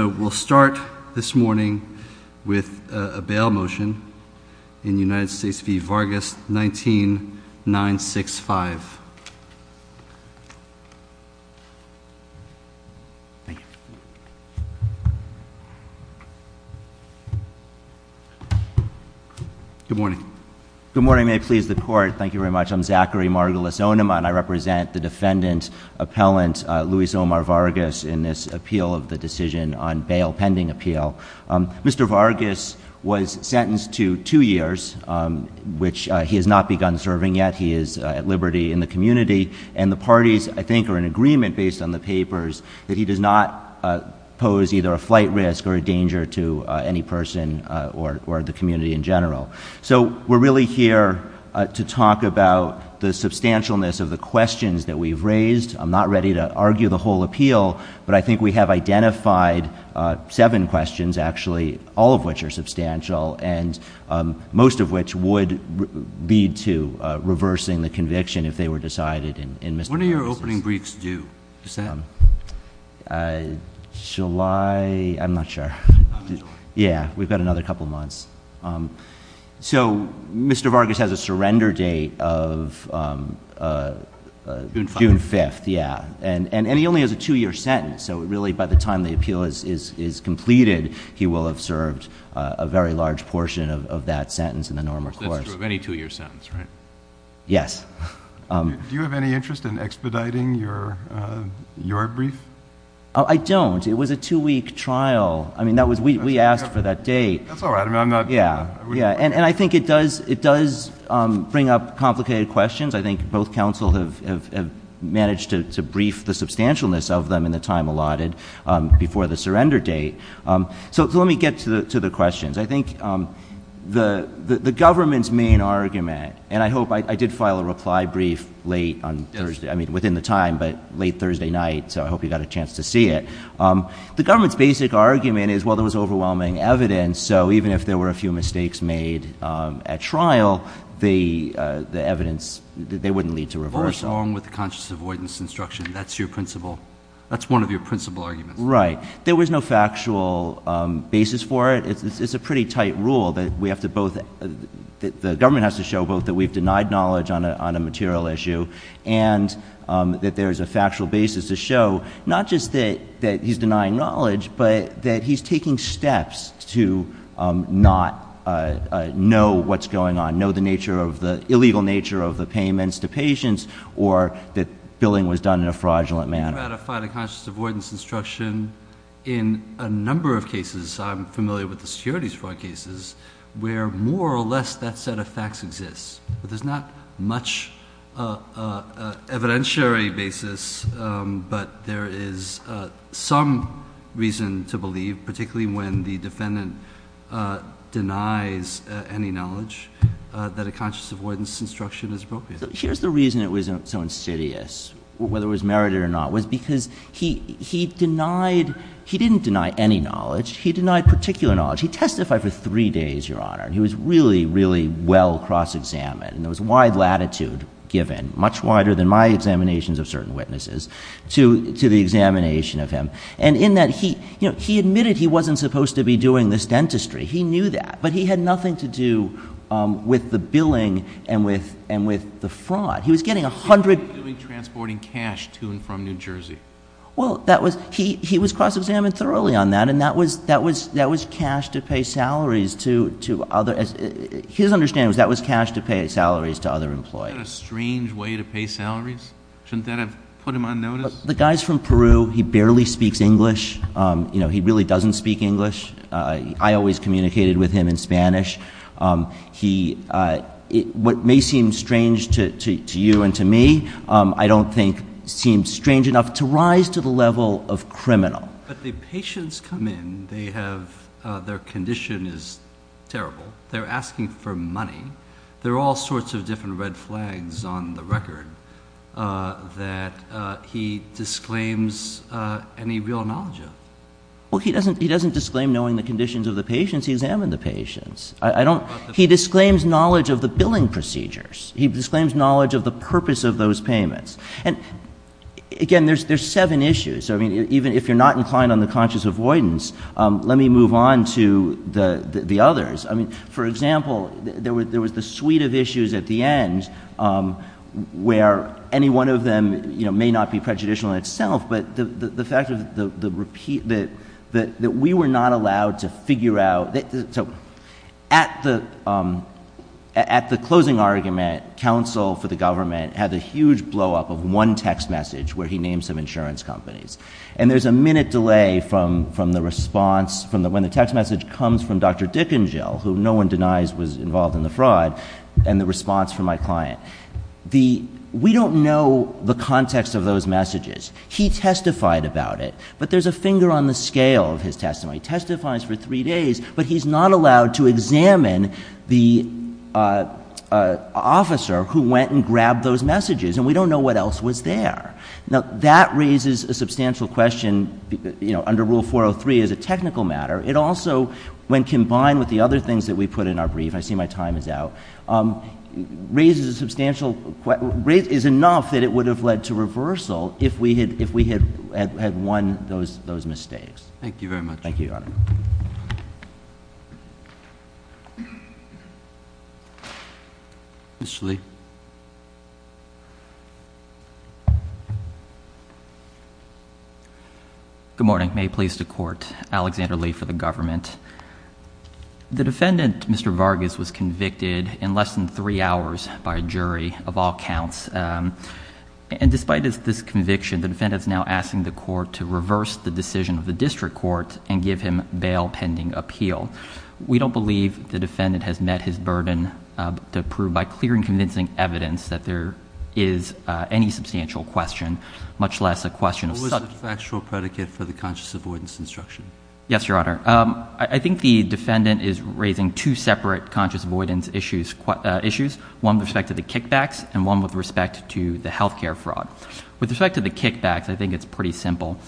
So we'll start this morning with a bail motion in United States v. Vargas, 19-965. Thank you. Good morning. Good morning. May it please the court. Thank you very much. I'm Zachary Margulis-Onema, and I represent the defendant, Appellant Luis Omar Vargas in this appeal of the decision on bail pending appeal. Mr. Vargas was sentenced to two years, which he has not begun serving yet. He is at liberty in the community. And the parties, I think, are in agreement based on the papers that he does not pose either a flight risk or a danger to any person or the community in general. So we're really here to talk about the substantialness of the questions that we've raised. I'm not ready to argue the whole appeal, but I think we have identified seven questions, actually, all of which are substantial and most of which would lead to reversing the conviction if they were decided in Mr. Vargas' case. When are your opening briefs due? Is that? July? I'm not sure. Yeah, we've got another couple of months. So Mr. Vargas has a surrender date of June 5th, yeah. And he only has a two-year sentence, so really by the time the appeal is completed, he will have served a very large portion of that sentence in the normal course. That's true of any two-year sentence, right? Yes. Do you have any interest in expediting your brief? I don't. It was a two-week trial. I mean, we asked for that date. That's all right. Yeah, and I think it does bring up complicated questions. I think both counsel have managed to brief the substantialness of them in the time allotted before the surrender date. So let me get to the questions. I think the government's main argument, and I hope I did file a reply brief late on Thursday, I mean within the time, but late Thursday night, so I hope you got a chance to see it. The government's basic argument is, well, there was overwhelming evidence, so even if there were a few mistakes made at trial, the evidence, they wouldn't lead to reversal. What was wrong with the conscious avoidance instruction? That's your principle. That's one of your principle arguments. Right. There was no factual basis for it. It's a pretty tight rule that we have to both – the government has to show both that we've denied knowledge on a material issue and that there's a factual basis to show not just that he's denying knowledge, but that he's taking steps to not know what's going on, know the illegal nature of the payments to patients or that billing was done in a fraudulent manner. We ratified a conscious avoidance instruction in a number of cases. I'm familiar with the securities fraud cases where more or less that set of facts exists, but there's not much evidentiary basis, but there is some reason to believe, particularly when the defendant denies any knowledge, that a conscious avoidance instruction is appropriate. Here's the reason it was so insidious, whether it was merited or not, was because he denied – he didn't deny any knowledge. He denied particular knowledge. He testified for three days, Your Honor, and he was really, really well cross-examined, and there was wide latitude given, much wider than my examinations of certain witnesses, to the examination of him, and in that he admitted he wasn't supposed to be doing this dentistry. He knew that, but he had nothing to do with the billing and with the fraud. He was getting a hundred – He was doing transporting cash to and from New Jersey. Well, that was – he was cross-examined thoroughly on that, and that was cash to pay salaries to other – his understanding was that was cash to pay salaries to other employees. Isn't that a strange way to pay salaries? Shouldn't that have put him on notice? The guy's from Peru. He barely speaks English. You know, he really doesn't speak English. I always communicated with him in Spanish. He – what may seem strange to you and to me, I don't think seems strange enough to rise to the level of criminal. But the patients come in. They have – their condition is terrible. They're asking for money. There are all sorts of different red flags on the record that he disclaims any real knowledge of. Well, he doesn't disclaim knowing the conditions of the patients. I don't – he disclaims knowledge of the billing procedures. He disclaims knowledge of the purpose of those payments. And, again, there's seven issues. I mean, even if you're not inclined on the conscious avoidance, let me move on to the others. I mean, for example, there was the suite of issues at the end where any one of them may not be prejudicial in itself, but the fact of the repeat – that we were not allowed to figure out – so at the closing argument, counsel for the government had the huge blowup of one text message where he named some insurance companies. And there's a minute delay from the response from the – when the text message comes from Dr. Dick and Jill, who no one denies was involved in the fraud, and the response from my client. The – we don't know the context of those messages. He testified about it, but there's a finger on the scale of his testimony. He testifies for three days, but he's not allowed to examine the officer who went and grabbed those messages. And we don't know what else was there. Now, that raises a substantial question, you know, under Rule 403 as a technical matter. It also, when combined with the other things that we put in our brief – I see my time is out – raises a substantial – is enough that it would have led to reversal if we had won those mistakes. Thank you very much. Thank you, Your Honor. Mr. Lee. Good morning. May it please the Court. Alexander Lee for the government. The defendant, Mr. Vargas, was convicted in less than three hours by a jury of all counts. And despite this conviction, the defendant is now asking the court to reverse the decision of the district court and give him bail pending appeal. We don't believe the defendant has met his burden to prove by clear and convincing evidence that there is any substantial question, much less a question of – What was the factual predicate for the conscious avoidance instruction? Yes, Your Honor. I think the defendant is raising two separate conscious avoidance issues, one with respect to the kickbacks and one with respect to the health care fraud. With respect to the kickbacks, I think it's pretty simple.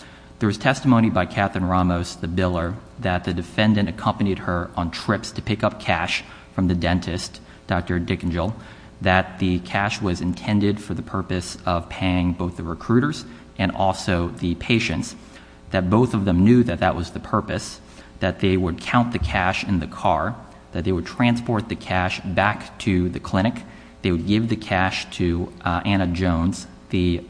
There was testimony by Katherine Ramos, the biller, that the defendant accompanied her on trips to pick up cash from the dentist, Dr. Dickenjill, that the cash was intended for the purpose of paying both the recruiters and also the patients, that both of them knew that that was the purpose, that they would count the cash in the car, that they would transport the cash back to the clinic, they would give the cash to Anna Jones, the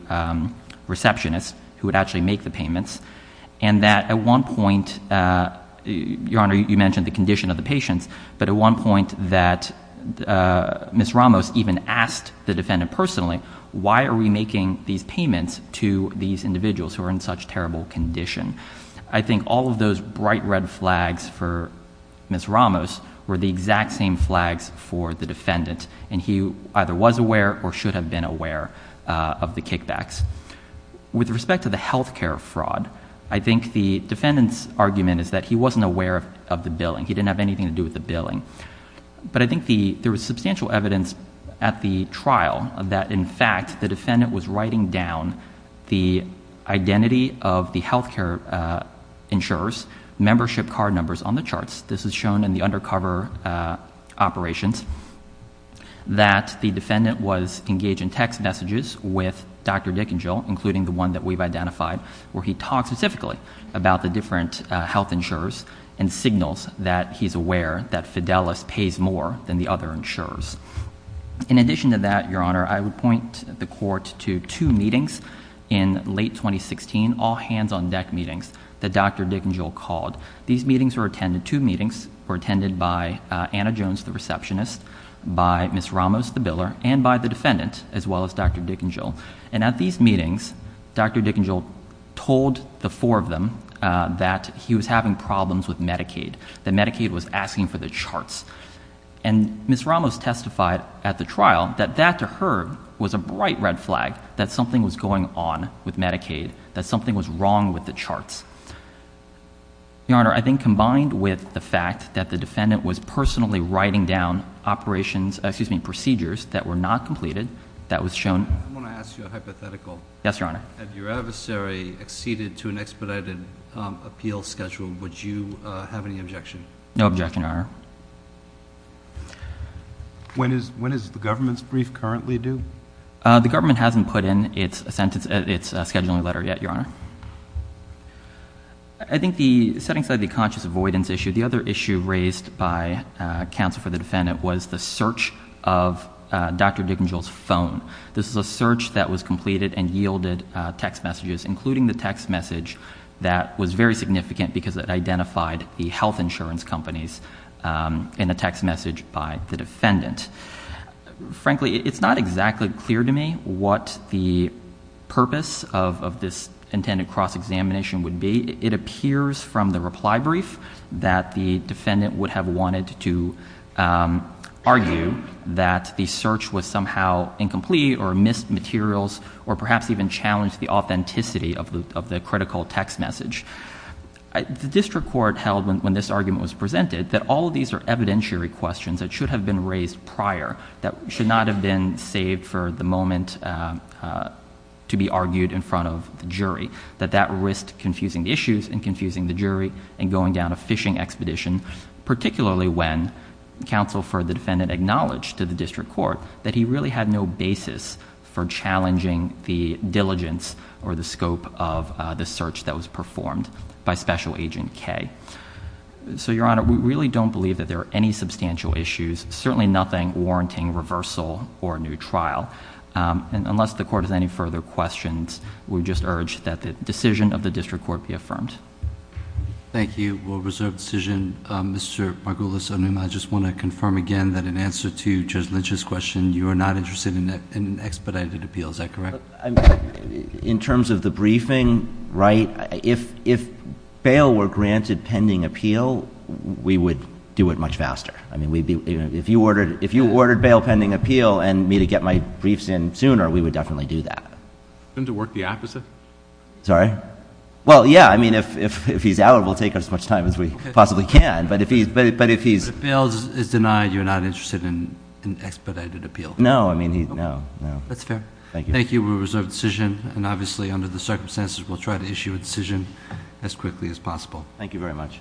receptionist who would actually make the payments, and that at one point – Your Honor, you mentioned the condition of the patients, but at one point that Ms. Ramos even asked the defendant personally, why are we making these payments to these individuals who are in such terrible condition? I think all of those bright red flags for Ms. Ramos were the exact same flags for the defendant, and he either was aware or should have been aware of the kickbacks. With respect to the health care fraud, I think the defendant's argument is that he wasn't aware of the billing. He didn't have anything to do with the billing. But I think there was substantial evidence at the trial that, in fact, the defendant was writing down the identity of the health care insurers' membership card numbers on the charts. This is shown in the undercover operations, that the defendant was engaged in text messages with Dr. Dickenjill, including the one that we've identified, where he talks specifically about the different health insurers and signals that he's aware that Fidelis pays more than the other insurers. In addition to that, Your Honor, I would point the Court to two meetings in late 2016, all hands-on-deck meetings that Dr. Dickenjill called. These meetings were attended – two meetings were attended by Anna Jones, the receptionist, by Ms. Ramos, the biller, and by the defendant, as well as Dr. Dickenjill. And at these meetings, Dr. Dickenjill told the four of them that he was having problems with Medicaid, that Medicaid was asking for the charts. And Ms. Ramos testified at the trial that that, to her, was a bright red flag, that something was going on with Medicaid, that something was wrong with the charts. Your Honor, I think combined with the fact that the defendant was personally writing down operations – excuse me, procedures that were not completed, that was shown – I want to ask you a hypothetical. Yes, Your Honor. Had your adversary acceded to an expedited appeal schedule, would you have any objection? No objection, Your Honor. When is the government's brief currently due? The government hasn't put in its sentence – its scheduling letter yet, Your Honor. I think the – setting aside the conscious avoidance issue, the other issue raised by counsel for the defendant was the search of Dr. Dickenjill's phone. This is a search that was completed and yielded text messages, including the text message that was very significant because it identified the health insurance companies in a text message by the defendant. Frankly, it's not exactly clear to me what the purpose of this intended cross-examination would be. It appears from the reply brief that the defendant would have wanted to argue that the search was somehow incomplete or missed materials or perhaps even challenged the authenticity of the critical text message. The district court held, when this argument was presented, that all of these are evidentiary questions that should have been raised prior, that should not have been saved for the moment to be argued in front of the jury, that that risked confusing the issues and confusing the jury and going down a fishing expedition, particularly when counsel for the defendant acknowledged to the district court that he really had no basis for challenging the diligence or the scope of the search that was performed by Special Agent K. So, Your Honor, we really don't believe that there are any substantial issues, certainly nothing warranting reversal or a new trial. Unless the court has any further questions, we just urge that the decision of the district court be affirmed. Thank you. We'll reserve the decision. Mr. Margolis, I just want to confirm again that in answer to Judge Lynch's question, you are not interested in an expedited appeal. Is that correct? In terms of the briefing, right, if bail were granted pending appeal, we would do it much faster. I mean, if you ordered bail pending appeal and me to get my briefs in sooner, we would definitely do that. Wouldn't it work the opposite? Sorry? Well, yeah. I mean, if he's out, we'll take as much time as we possibly can. But if he's— If bail is denied, you're not interested in an expedited appeal. No. I mean, no. That's fair. Thank you. Thank you. We'll reserve the decision. And obviously, under the circumstances, we'll try to issue a decision as quickly as possible. Thank you very much.